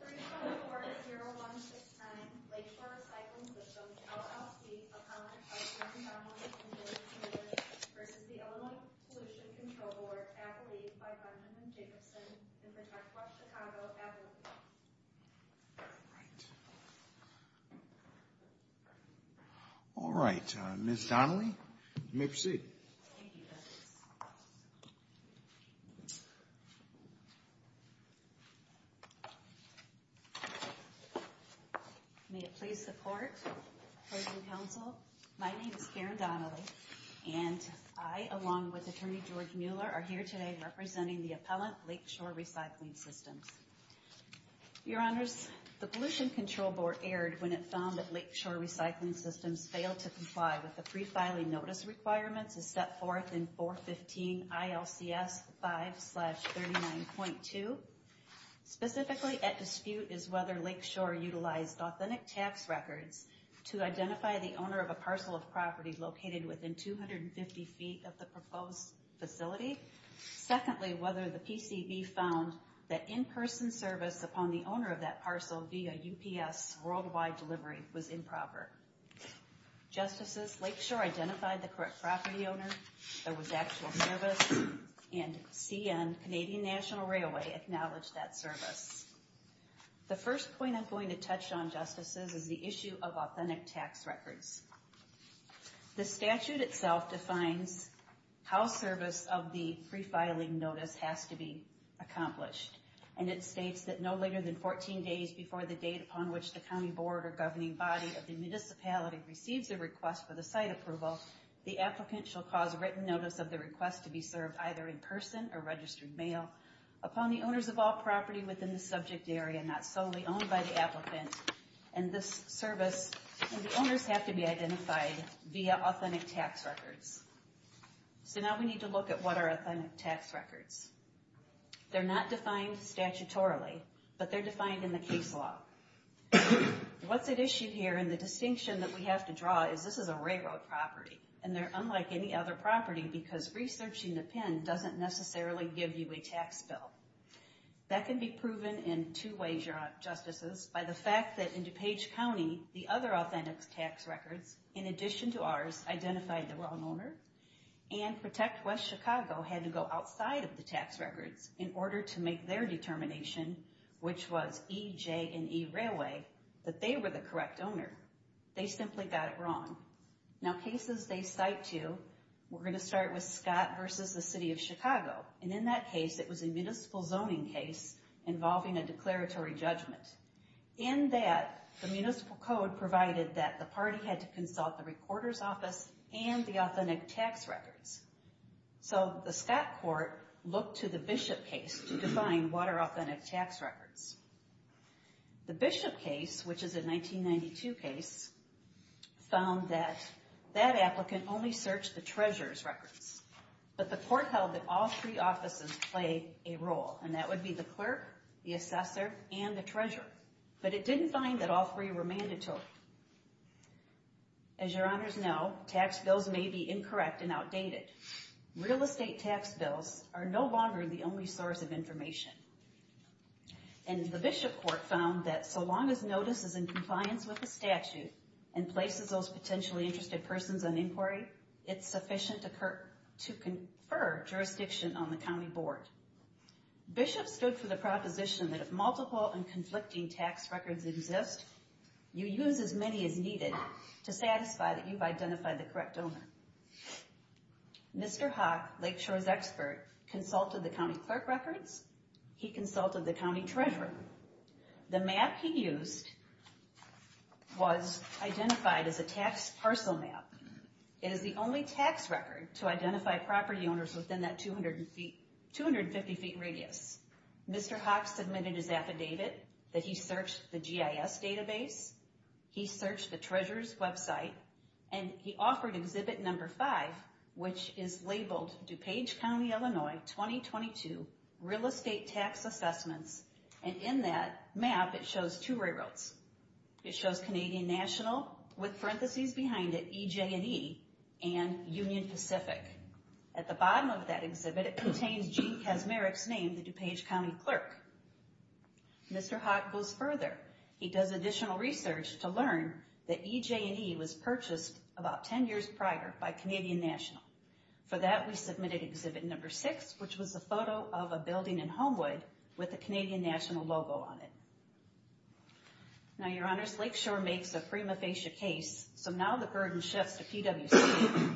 v. The Illinois Pollution Control Board, Adelaide, by Benjamin Jacobson, and Protect Wash, Chicago, Adelaide. All right, Ms. Donnelly, you may proceed. Thank you, Douglas. May it please the Court, members of the Council, my name is Karen Donnelly, and I, along with Attorney George Mueller, are here today representing the appellant, Lakeshore Recycling Systems. Your Honors, the Pollution Control Board erred when it found that Lakeshore Recycling Systems failed to comply with the pre-filing notice requirements as set forth in 415 ILCS 5-39.2. Specifically at dispute is whether Lakeshore utilized authentic tax records to identify the owner of a parcel of property located within 250 feet of the proposed facility. Secondly, whether the PCB found that in-person service upon the owner of that parcel via UPS worldwide delivery was improper. Justices, Lakeshore identified the correct property owner, there was actual service, and CN, Canadian National Railway, acknowledged that service. The first point I'm going to touch on, Justices, is the issue of authentic tax records. The statute itself defines how service of the pre-filing notice has to be accomplished, and it states that no later than 14 days before the date upon which the County Board or Governing Body of the Municipality receives a request for the site approval, the applicant shall cause written notice of the request to be served either in person or registered mail upon the owners of all property within the subject area not solely owned by the applicant. And this service, the owners have to be identified via authentic tax records. So now we need to look at what are authentic tax records. They're not defined statutorily, but they're defined in the case law. What's at issue here, and the distinction that we have to draw, is this is a railroad property, and they're unlike any other property because researching the PIN doesn't necessarily give you a tax bill. That can be proven in two ways, Justices, by the fact that in DuPage County, the other authentic tax records, in addition to ours, identified the wrong owner, and Protect West Chicago had to go outside of the tax records in order to make their determination, which was E, J, and E Railway, that they were the correct owner. They simply got it wrong. Now cases they cite to, we're going to start with Scott versus the City of Chicago. And in that case, it was a municipal zoning case involving a declaratory judgment. In that, the municipal code provided that the party had to consult the recorder's office and the authentic tax records. So the Scott court looked to the Bishop case to define what are authentic tax records. The Bishop case, which is a 1992 case, found that that applicant only searched the treasurer's records. But the court held that all three offices play a role, and that would be the clerk, the assessor, and the treasurer. But it didn't find that all three were mandatory. As your honors know, tax bills may be incorrect and outdated. Real estate tax bills are no longer the only source of information. And the Bishop court found that so long as notice is in compliance with the statute and places those potentially interested persons on inquiry, it's sufficient to confer jurisdiction on the county board. Bishop stood for the proposition that if multiple and conflicting tax records exist, you use as many as needed to satisfy that you've identified the correct owner. Mr. Haack, Lakeshore's expert, consulted the county clerk records. He consulted the county treasurer. The map he used was identified as a tax parcel map. It is the only tax record to identify property owners within that 250 feet radius. Mr. Haack submitted his affidavit that he searched the GIS database. He searched the treasurer's website, and he offered exhibit number five, which is labeled DuPage County, Illinois, 2022 Real Estate Tax Assessments. And in that map, it shows two railroads. It shows Canadian National with parentheses behind it, EJ&E, and Union Pacific. At the bottom of that exhibit, it contains Gene Kaczmarek's name, the DuPage County clerk. Mr. Haack goes further. He does additional research to learn that EJ&E was purchased about 10 years prior by Canadian National. For that, we submitted exhibit number six, which was a photo of a building in Homewood with the Canadian National logo on it. Now, your honors, Lakeshore makes a prima facie case, so now the burden shifts to PWC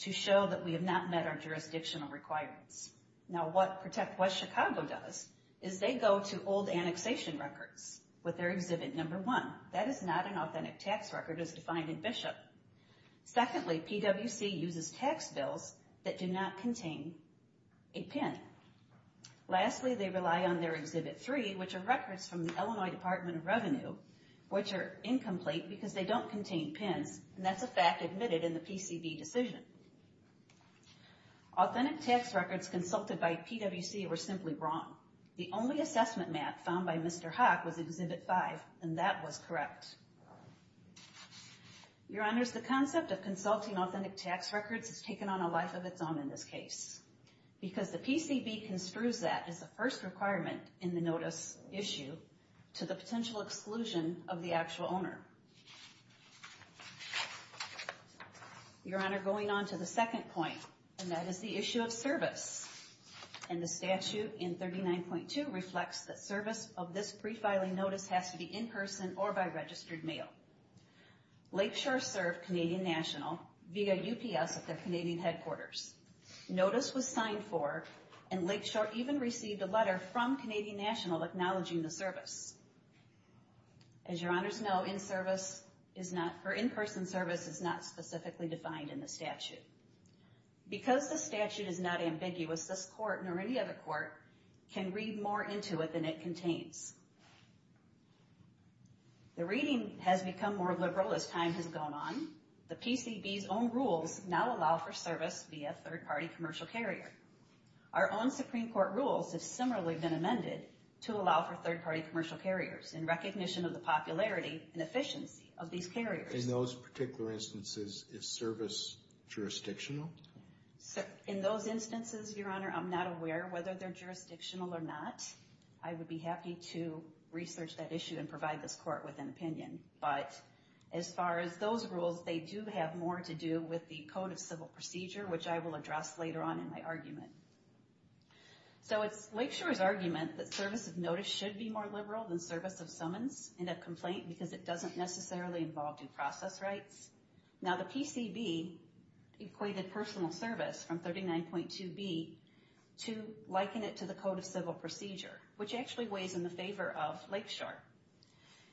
to show that we have not met our jurisdictional requirements. Now, what Protect West Chicago does is they go to old annexation records with their exhibit number one. That is not an authentic tax record as defined in Bishop. Secondly, PWC uses tax bills that do not contain a PIN. Lastly, they rely on their exhibit three, which are records from the Illinois Department of Revenue, which are incomplete because they don't contain PINs, and that's a fact admitted in the PCV decision. Authentic tax records consulted by PWC were simply wrong. The only assessment map found by Mr. Haack was exhibit five, and that was correct. Your honors, the concept of consulting authentic tax records has taken on a life of its own in this case because the PCV construes that as the first requirement in the notice issue to the potential exclusion of the actual owner. Your honor, going on to the second point, and that is the issue of service, and the statute in 39.2 reflects that service of this prefiling notice has to be in person or by registered mail. Lakeshore served Canadian National via UPS at their Canadian headquarters. Notice was signed for, and Lakeshore even received a letter from Canadian National acknowledging the service. As your honors know, in-person service is not specifically defined in the statute. Because the statute is not ambiguous, this court, nor any other court, can read more into it than it contains. The reading has become more liberal as time has gone on. The PCV's own rules now allow for service via third-party commercial carrier. Our own Supreme Court rules have similarly been amended to allow for third-party commercial carriers in recognition of the popularity and efficiency of these carriers. In those particular instances, is service jurisdictional? In those instances, your honor, I'm not aware whether they're jurisdictional or not. I would be happy to research that issue and provide this court with an opinion. But as far as those rules, they do have more to do with the Code of Civil Procedure, which I will address later on in my argument. So it's Lakeshore's argument that service of notice should be more liberal than service of summons in a complaint because it doesn't necessarily involve due process rights. Now the PCV equated personal service from 39.2b to liken it to the Code of Civil Procedure, which actually weighs in the favor of Lakeshore.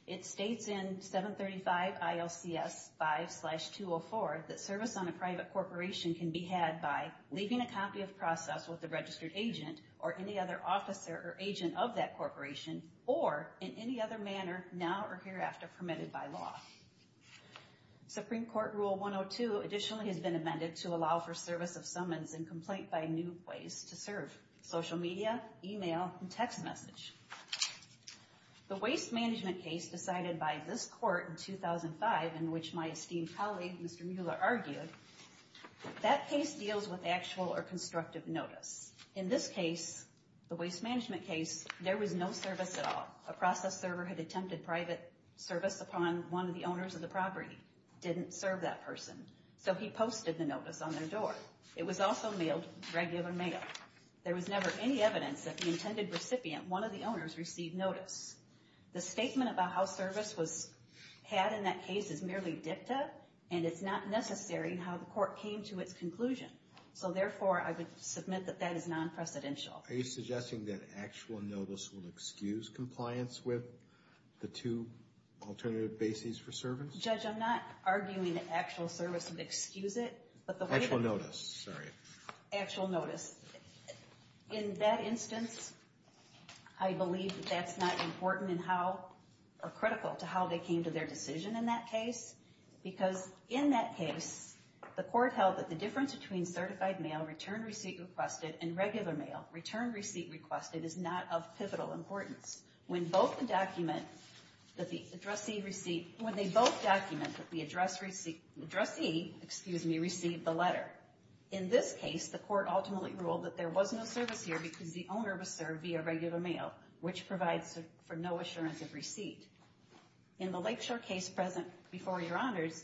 It states in 735 ILCS 5-204 that service on a private corporation can be had by leaving a copy of process with a registered agent or any other officer or agent of that corporation or in any other manner now or hereafter permitted by law. Supreme Court Rule 102 additionally has been amended to allow for service of summons in complaint by new ways to serve, social media, email, and text message. The waste management case decided by this court in 2005, in which my esteemed colleague, Mr. Mueller, argued, that case deals with actual or constructive notice. In this case, the waste management case, there was no service at all. A process server had attempted private service upon one of the owners of the property. Didn't serve that person, so he posted the notice on their door. It was also mailed, regular mail. There was never any evidence that the intended recipient, one of the owners, received notice. The statement about how service was had in that case is merely dicta, and it's not necessary how the court came to its conclusion. So, therefore, I would submit that that is non-precedential. Are you suggesting that actual notice will excuse compliance with the two alternative bases for service? Judge, I'm not arguing that actual service would excuse it, but the way that Actual notice, sorry. Actual notice. In that instance, I believe that that's not important in how, or critical to how they came to their decision in that case, because in that case, the court held that the difference between certified mail, return receipt requested, and regular mail, return receipt requested, is not of pivotal importance. When both the document, that the addressee received, when they both document that the addressee, excuse me, received the letter. In this case, the court ultimately ruled that there was no service here because the owner was served via regular mail, which provides for no assurance of receipt. In the Lakeshore case present before your honors,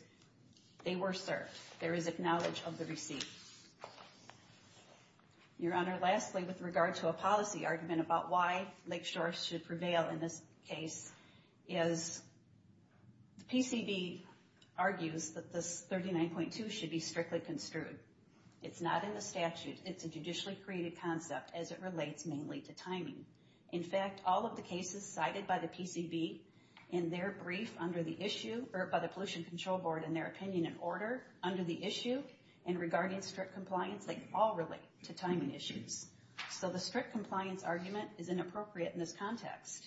they were served. There is acknowledge of the receipt. Your honor, lastly, with regard to a policy argument about why Lakeshore should prevail in this case, is the PCB argues that this 39.2 should be strictly construed. It's not in the statute. It's a judicially created concept, as it relates mainly to timing. In fact, all of the cases cited by the PCB in their brief under the issue, or by the Pollution Control Board in their opinion and order under the issue, and regarding strict compliance, they all relate to timing issues. So the strict compliance argument is inappropriate in this context.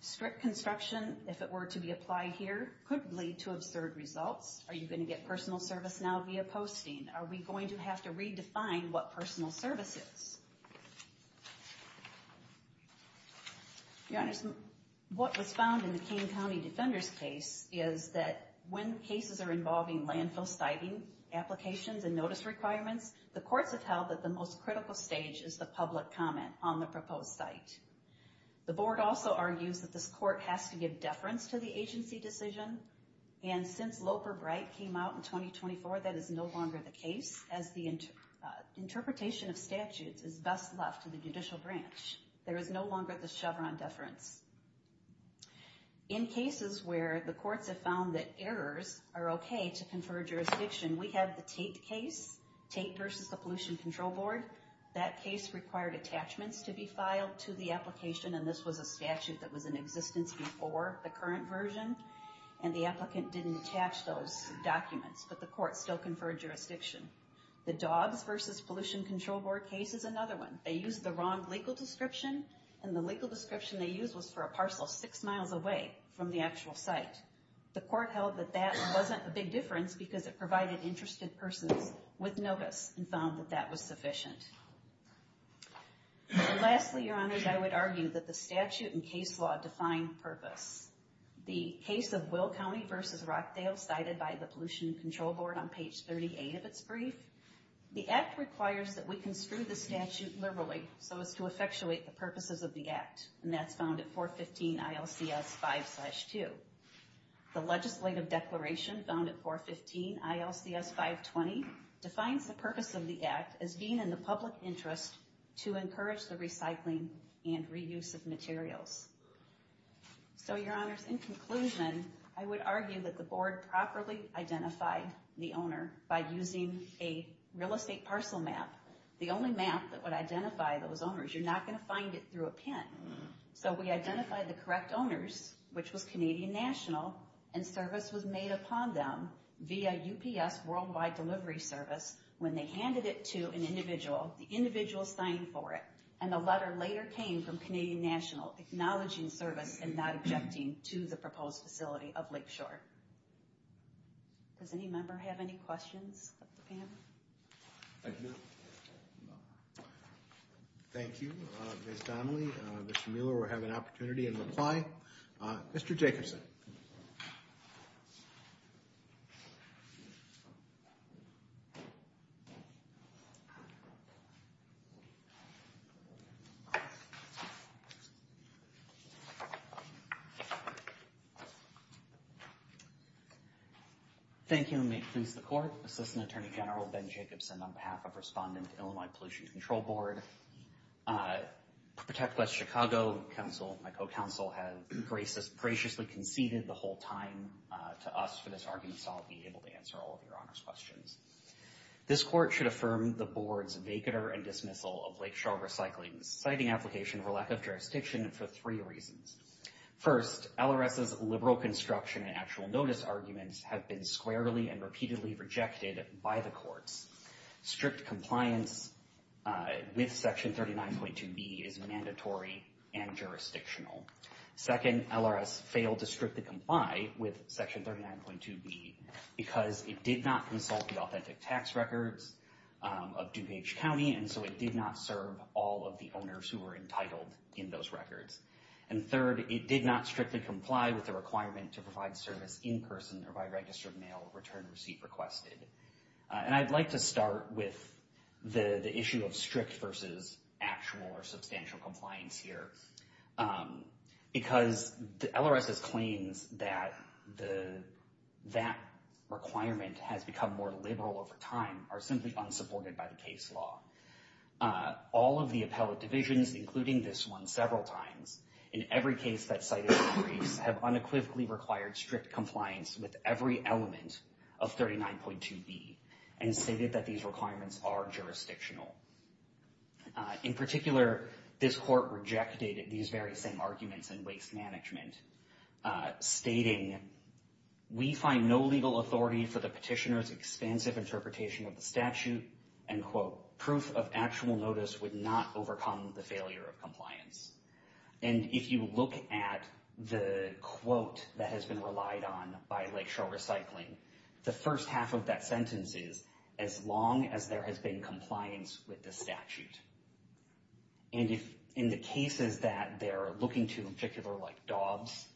Strict construction, if it were to be applied here, could lead to absurd results. Are you going to get personal service now via posting? Are we going to have to redefine what personal service is? Your honors, what was found in the King County Defender's case, is that when cases are involving landfill stiving applications and notice requirements, the courts have held that the most critical stage is the public comment on the proposed site. The board also argues that this court has to give deference to the agency decision, and since Loper-Bright came out in 2024, that is no longer the case, as the interpretation of statutes is best left to the judicial branch. There is no longer the Chevron deference. In cases where the courts have found that errors are okay to confer jurisdiction, we have the Tate case, Tate versus the Pollution Control Board. That case required attachments to be filed to the application, and this was a statute that was in existence before the current version, and the applicant didn't attach those documents, but the court still conferred jurisdiction. The Dogs versus Pollution Control Board case is another one. They used the wrong legal description, and the legal description they used was for a parcel six miles away from the actual site. The court held that that wasn't a big difference because it provided interested persons with notice and found that that was sufficient. Lastly, Your Honors, I would argue that the statute and case law define purpose. The case of Will County versus Rockdale, cited by the Pollution Control Board on page 38 of its brief, the act requires that we construe the statute liberally so as to effectuate the purposes of the act, and that's found at 415 ILCS 5-2. The legislative declaration found at 415 ILCS 5-20 defines the purpose of the act as being in the public interest to encourage the recycling and reuse of materials. So, Your Honors, in conclusion, I would argue that the board properly identified the owner by using a real estate parcel map, the only map that would identify those owners. You're not going to find it through a pin. So we identified the correct owners, which was Canadian National, and service was made upon them via UPS Worldwide Delivery Service when they handed it to an individual, the individual signing for it, and the letter later came from Canadian National acknowledging service and not objecting to the proposed facility of Lakeshore. Does any member have any questions of the panel? Thank you. Thank you, Ms. Donnelly. Mr. Mueller, we'll have an opportunity in reply. Mr. Jacobson. Thank you. May it please the Court. Assistant Attorney General Ben Jacobson on behalf of Respondent Illinois Pollution Control Board. Protect West Chicago Council, my co-counsel, has graciously conceded the whole time to us for this argument, so I'll be able to answer all of Your Honors' questions. This court should affirm the board's vacater and dismissal of Lakeshore recycling, citing application for lack of jurisdiction for three reasons. First, LRS's liberal construction and actual notice arguments have been squarely and repeatedly rejected by the courts. Strict compliance with Section 39.2b is mandatory and jurisdictional. Second, LRS failed to strictly comply with Section 39.2b because it did not consult the authentic tax records of DuPage County, and so it did not serve all of the owners who were entitled in those records. And third, it did not strictly comply with the requirement to provide service in person or by registered mail return receipt requested. And I'd like to start with the issue of strict versus actual or substantial compliance here, because LRS's claims that that requirement has become more liberal over time are simply unsupported by the case law. All of the appellate divisions, including this one, several times, in every case that cited in the briefs have unequivocally required strict compliance with every element of 39.2b and stated that these requirements are jurisdictional. In particular, this court rejected these very same arguments in waste management, stating, we find no legal authority for the petitioner's expansive interpretation of the statute, and, quote, proof of actual notice would not overcome the failure of compliance. And if you look at the quote that has been relied on by Lakeshore Recycling, the first half of that sentence is, as long as there has been compliance with the statute. And if in the cases that they're looking to, in particular like Dobbs,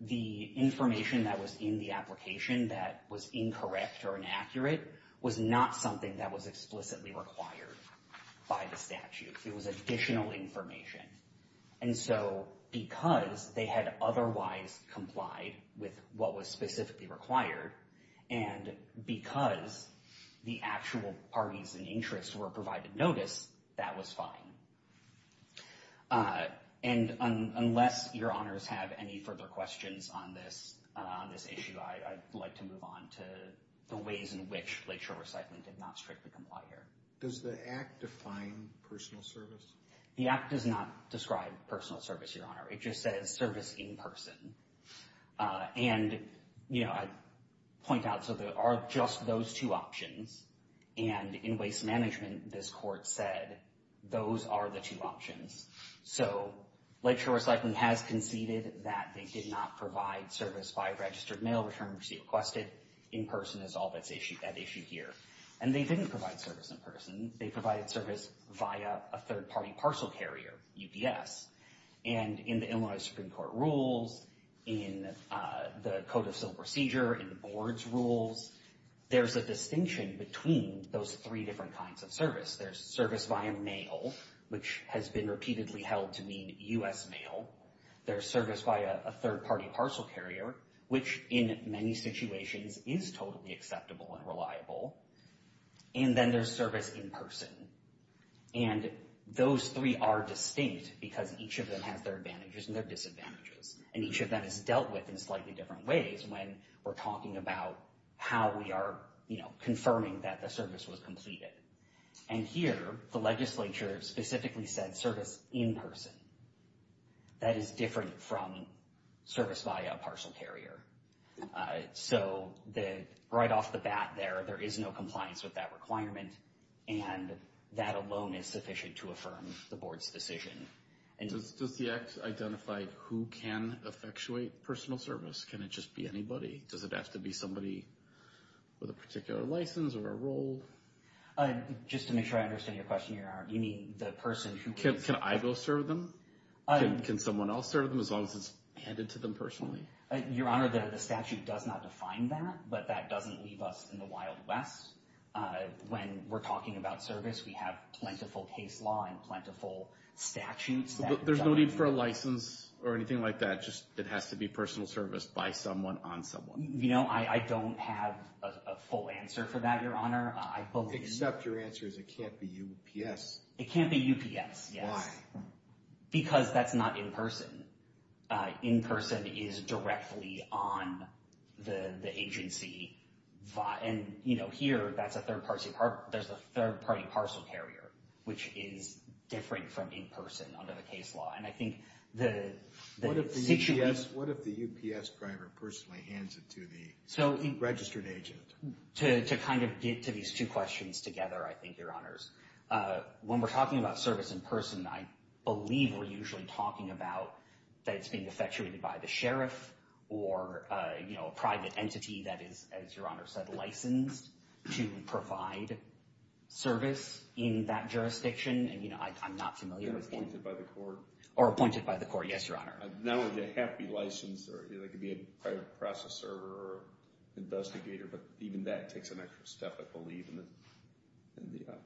the information that was in the application that was incorrect or inaccurate was not something that was explicitly required by the statute. It was additional information. And so because they had otherwise complied with what was specifically required, and because the actual parties and interests were provided notice, that was fine. And unless your honors have any further questions on this issue, I'd like to move on to the ways in which Lakeshore Recycling did not strictly comply here. Does the Act define personal service? The Act does not describe personal service, your honor. It just says service in person. And, you know, I'd point out, so there are just those two options. And in waste management, this court said those are the two options. So Lakeshore Recycling has conceded that they did not provide service by registered mail, return and receipt requested, in person is all that's at issue here. And they didn't provide service in person. They provided service via a third-party parcel carrier, UPS. And in the Illinois Supreme Court rules, in the Code of Civil Procedure, in the board's rules, there's a distinction between those three different kinds of service. There's service via mail, which has been repeatedly held to mean U.S. mail. There's service via a third-party parcel carrier, which in many situations is totally acceptable and reliable. And then there's service in person. And those three are distinct because each of them has their advantages and their disadvantages. And each of them is dealt with in slightly different ways when we're talking about how we are, you know, confirming that the service was completed. And here, the legislature specifically said service in person. That is different from service via a parcel carrier. So right off the bat there, there is no compliance with that requirement, and that alone is sufficient to affirm the board's decision. Does the act identify who can effectuate personal service? Can it just be anybody? Does it have to be somebody with a particular license or a role? Just to make sure I understand your question, you mean the person who can serve them? Can someone else serve them as long as it's handed to them personally? Your Honor, the statute does not define that, but that doesn't leave us in the Wild West. When we're talking about service, we have plentiful case law and plentiful statutes. There's no need for a license or anything like that? Just it has to be personal service by someone, on someone? You know, I don't have a full answer for that, Your Honor. I believe— Except your answer is it can't be UPS. It can't be UPS, yes. Why? Because that's not in person. In person is directly on the agency. And, you know, here, there's a third-party parcel carrier, which is different from in person under the case law. And I think the situation— What if the UPS driver personally hands it to the registered agent? To kind of get to these two questions together, I think, Your Honors, when we're talking about service in person, I believe we're usually talking about that it's being effectuated by the sheriff or, you know, a private entity that is, as Your Honor said, licensed to provide service in that jurisdiction. And, you know, I'm not familiar with— Or appointed by the court. Or appointed by the court, yes, Your Honor. Not only do they have to be licensed, or they could be a private processor or investigator, but even that takes an extra step, I believe, in the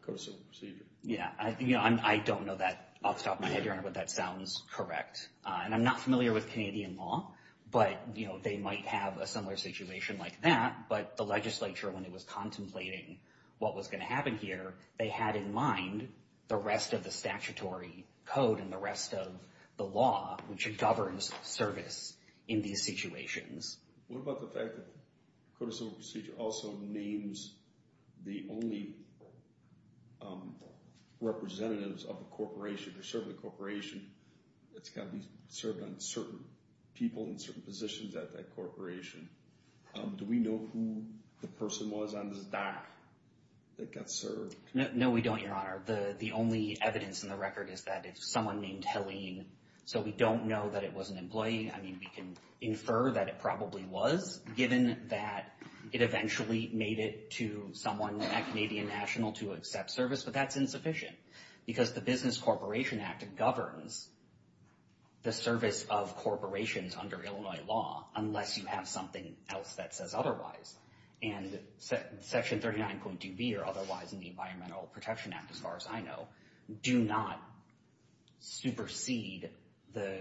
code of civil procedure. Yeah, I don't know that off the top of my head, Your Honor, but that sounds correct. And I'm not familiar with Canadian law, but, you know, they might have a similar situation like that. But the legislature, when it was contemplating what was going to happen here, they had in mind the rest of the statutory code and the rest of the law, which governs service in these situations. What about the fact that the code of civil procedure also names the only representatives of a corporation? They serve the corporation. It's got to be served on certain people in certain positions at that corporation. Do we know who the person was on this dock that got served? No, we don't, Your Honor. The only evidence in the record is that it's someone named Helene. So we don't know that it was an employee. I mean, we can infer that it probably was, given that it eventually made it to someone at Canadian National to accept service, but that's insufficient because the Business Corporation Act governs the service of corporations under Illinois law, unless you have something else that says otherwise. And Section 39.2b or otherwise in the Environmental Protection Act, as far as I know, do not supersede the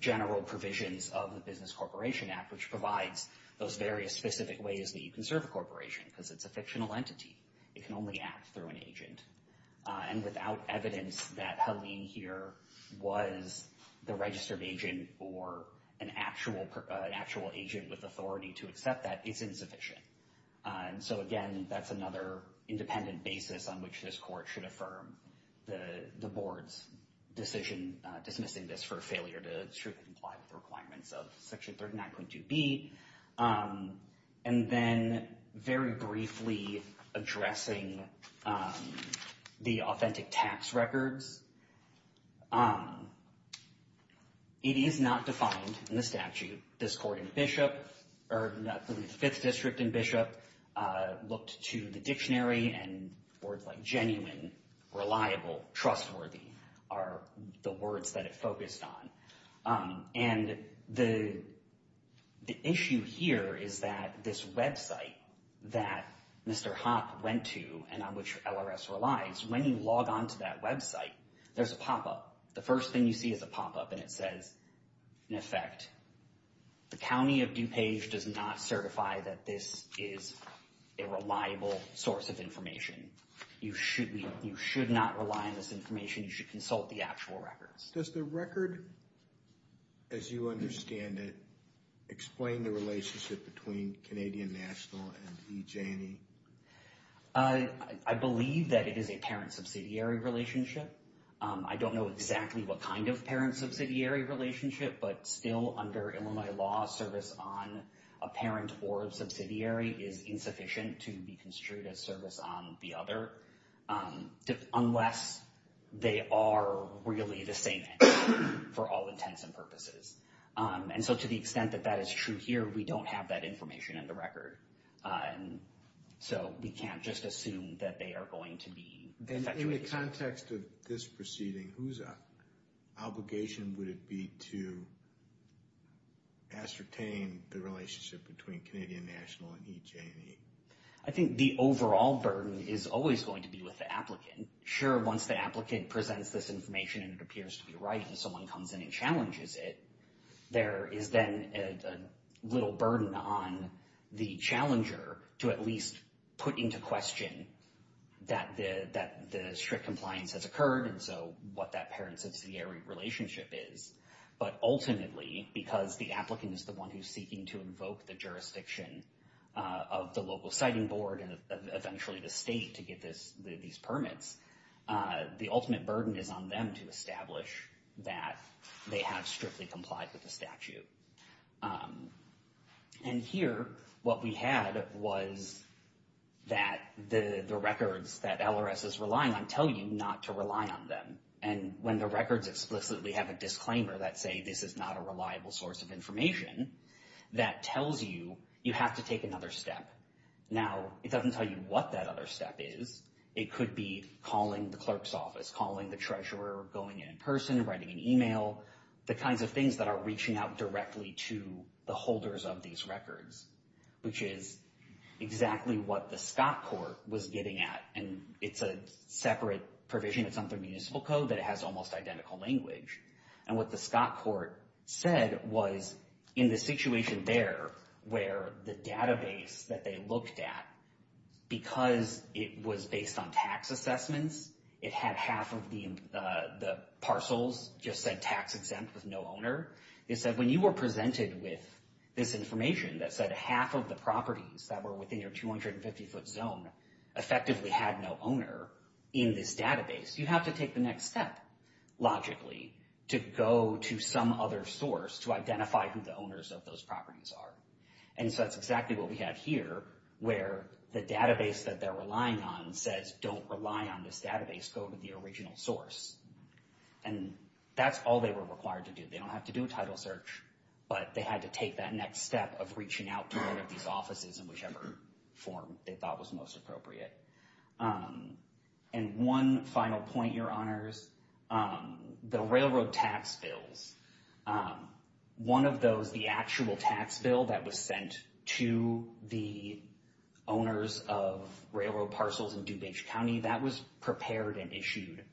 general provisions of the Business Corporation Act, which provides those various specific ways that you can serve a corporation because it's a fictional entity. It can only act through an agent. And without evidence that Helene here was the registered agent or an actual agent with authority to accept that, it's insufficient. And so, again, that's another independent basis on which this court should affirm the board's decision dismissing this for failure to strictly comply with the requirements of Section 39.2b. And then very briefly addressing the authentic tax records. It is not defined in the statute. This court in Bishop, or the Fifth District in Bishop, looked to the dictionary, and words like genuine, reliable, trustworthy are the words that it focused on. And the issue here is that this website that Mr. Hopp went to and on which LRS relies, when you log on to that website, there's a pop-up. The first thing you see is a pop-up, and it says, in effect, the County of DuPage does not certify that this is a reliable source of information. You should not rely on this information. You should consult the actual records. Does the record, as you understand it, explain the relationship between Canadian National and E. Janney? I believe that it is a parent-subsidiary relationship. I don't know exactly what kind of parent-subsidiary relationship, but still under Illinois law, service on a parent or a subsidiary is insufficient to be construed as service on the other, unless they are really the same entity for all intents and purposes. And so to the extent that that is true here, we don't have that information in the record. So we can't just assume that they are going to be. In the context of this proceeding, whose obligation would it be to ascertain the relationship between Canadian National and E. Janney? I think the overall burden is always going to be with the applicant. Sure, once the applicant presents this information and it appears to be right and someone comes in and challenges it, there is then a little burden on the challenger to at least put into question that the strict compliance has occurred and so what that parent-subsidiary relationship is. But ultimately, because the applicant is the one who's seeking to invoke the jurisdiction of the local citing board and eventually the state to get these permits, the ultimate burden is on them to establish that they have strictly complied with the statute. And here, what we had was that the records that LRS is relying on tell you not to rely on them. And when the records explicitly have a disclaimer that say this is not a reliable source of information, that tells you you have to take another step. Now, it doesn't tell you what that other step is. It could be calling the clerk's office, calling the treasurer, going in person, writing an email, the kinds of things that are reaching out directly to the holders of these records, which is exactly what the Scott Court was getting at. And it's a separate provision that's on the municipal code that it has almost identical language. And what the Scott Court said was in the situation there where the database that they looked at, because it was based on tax assessments, it had half of the parcels just said tax exempt with no owner, it said when you were presented with this information that said half of the properties that were within your 250-foot zone effectively had no owner in this database, you have to take the next step logically to go to some other source to identify who the owners of those properties are. And so that's exactly what we have here where the database that they're relying on says don't rely on this database, go to the original source. And that's all they were required to do. They don't have to do a title search, but they had to take that next step of reaching out to one of these offices in whichever form they thought was most appropriate. And one final point, Your Honors, the railroad tax bills, one of those, the actual tax bill that was sent to the owners of railroad parcels in DuPage County, that was prepared and issued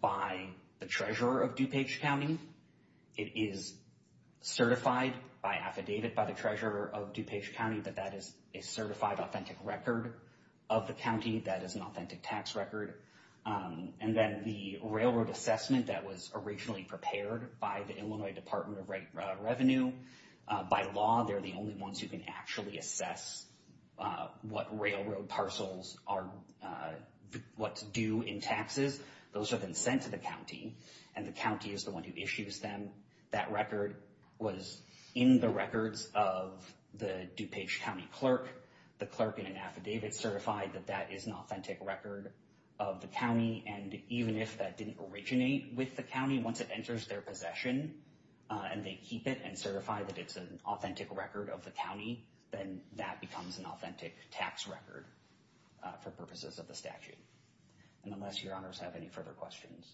by the treasurer of DuPage County. It is certified by affidavit by the treasurer of DuPage County that that is a certified authentic record of the county, that is an authentic tax record. And then the railroad assessment that was originally prepared by the Illinois Department of Revenue, by law they're the only ones who can actually assess what railroad parcels are, what's due in taxes. Those have been sent to the county, and the county is the one who issues them. That record was in the records of the DuPage County clerk. The clerk in an affidavit certified that that is an authentic record of the county. And even if that didn't originate with the county, once it enters their possession, and they keep it and certify that it's an authentic record of the county, then that becomes an authentic tax record for purposes of the statute. And unless Your Honors have any further questions.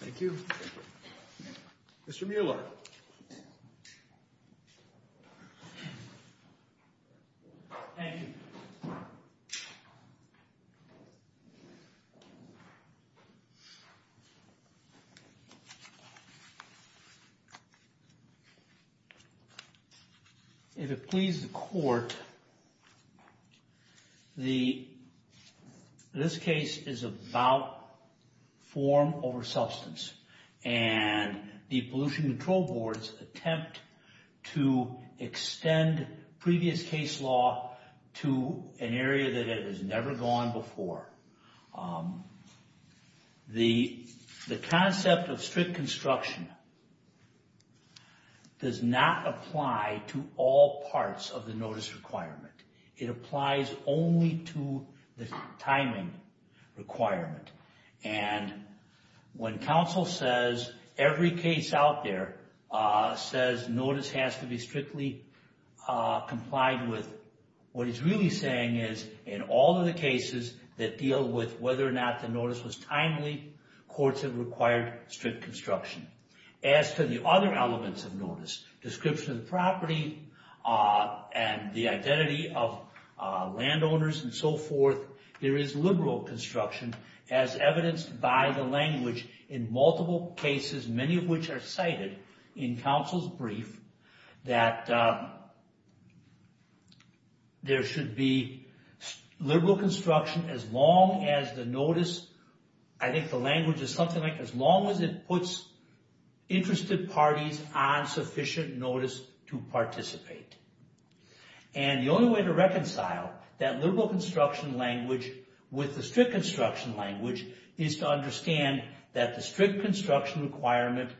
Thank you. Mr. Mueller. Thank you. If it pleases the court, this case is about form over substance. And the pollution control boards attempt to extend previous case law to an area that has never gone before. The concept of strict construction does not apply to all parts of the notice requirement. It applies only to the timing requirement. And when counsel says every case out there says notice has to be strictly complied with, what he's really saying is in all of the cases that deal with whether or not the notice was timely, courts have required strict construction. As to the other elements of notice, description of the property and the identity of landowners and so forth, there is liberal construction as evidenced by the language in multiple cases, many of which are cited in counsel's brief, that there should be liberal construction as long as the notice, I think the language is something like as long as it puts interested parties on sufficient notice to participate. And the only way to reconcile that liberal construction language with the strict construction language is to understand that the strict construction requirement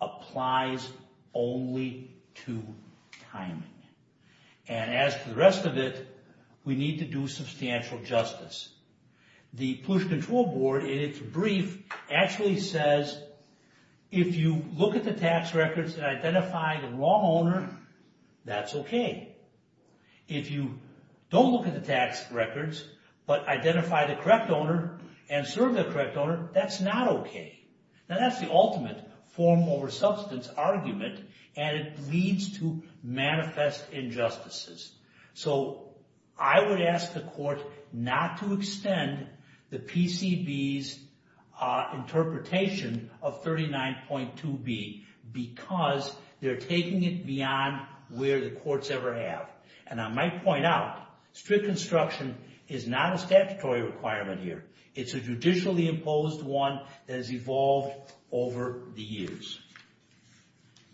applies only to timing. And as for the rest of it, we need to do substantial justice. The Pollution Control Board in its brief actually says, if you look at the tax records and identify the wrong owner, that's okay. If you don't look at the tax records but identify the correct owner and serve the correct owner, that's not okay. Now that's the ultimate form over substance argument, and it leads to manifest injustices. So I would ask the court not to extend the PCB's interpretation of 39.2B because they're taking it beyond where the courts ever have. And I might point out, strict construction is not a statutory requirement here. It's a judicially imposed one that has evolved over the years.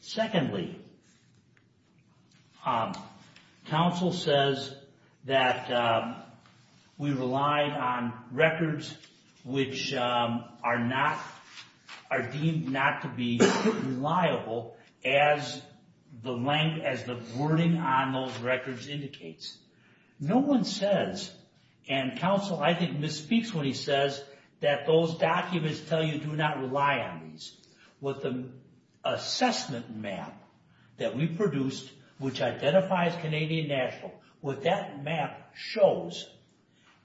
Secondly, counsel says that we relied on records which are deemed not to be reliable as the wording on those records indicates. No one says, and counsel I think misspeaks when he says, that those documents tell you do not rely on these. With the assessment map that we produced, which identifies Canadian National, what that map shows,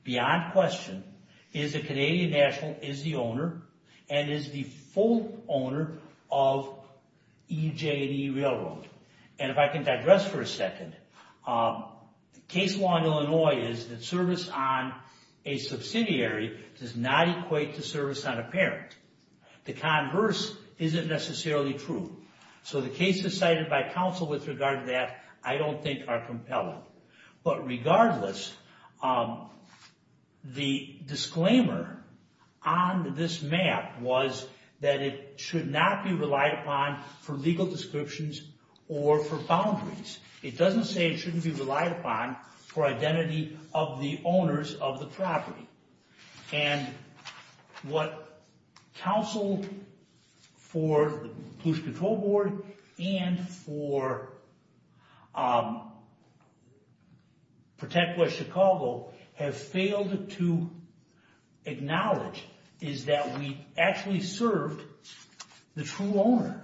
beyond question, is that Canadian National is the owner and is the full owner of EJ&E Railroad. And if I can digress for a second, case law in Illinois is that service on a subsidiary does not equate to service on a parent. The converse isn't necessarily true. So the cases cited by counsel with regard to that I don't think are compelling. But regardless, the disclaimer on this map was that it should not be relied upon for legal descriptions or for boundaries. It doesn't say it shouldn't be relied upon for identity of the owners of the property. And what counsel for the Pollution Control Board and for Protect West Chicago have failed to acknowledge is that we actually served the true owner.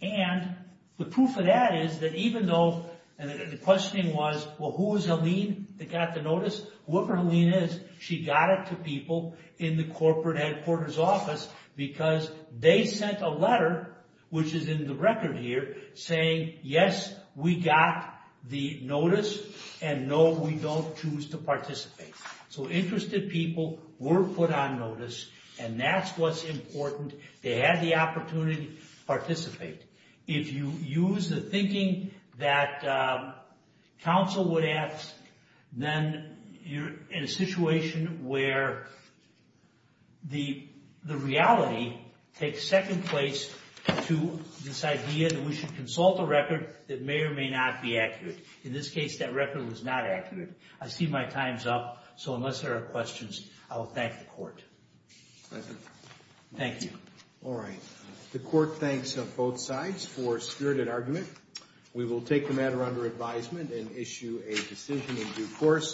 And the proof of that is that even though the questioning was, well, who was Helene that got the notice? Whoever Helene is, she got it to people in the corporate headquarters office because they sent a letter, which is in the record here, saying, yes, we got the notice, and no, we don't choose to participate. So interested people were put on notice, and that's what's important. They had the opportunity to participate. If you use the thinking that counsel would ask, then you're in a situation where the reality takes second place to this idea that we should consult a record that may or may not be accurate. In this case, that record was not accurate. I see my time's up, so unless there are questions, I will thank the Court. Thank you. All right. The Court thanks both sides for a spirited argument. We will take the matter under advisement and issue a decision in due course.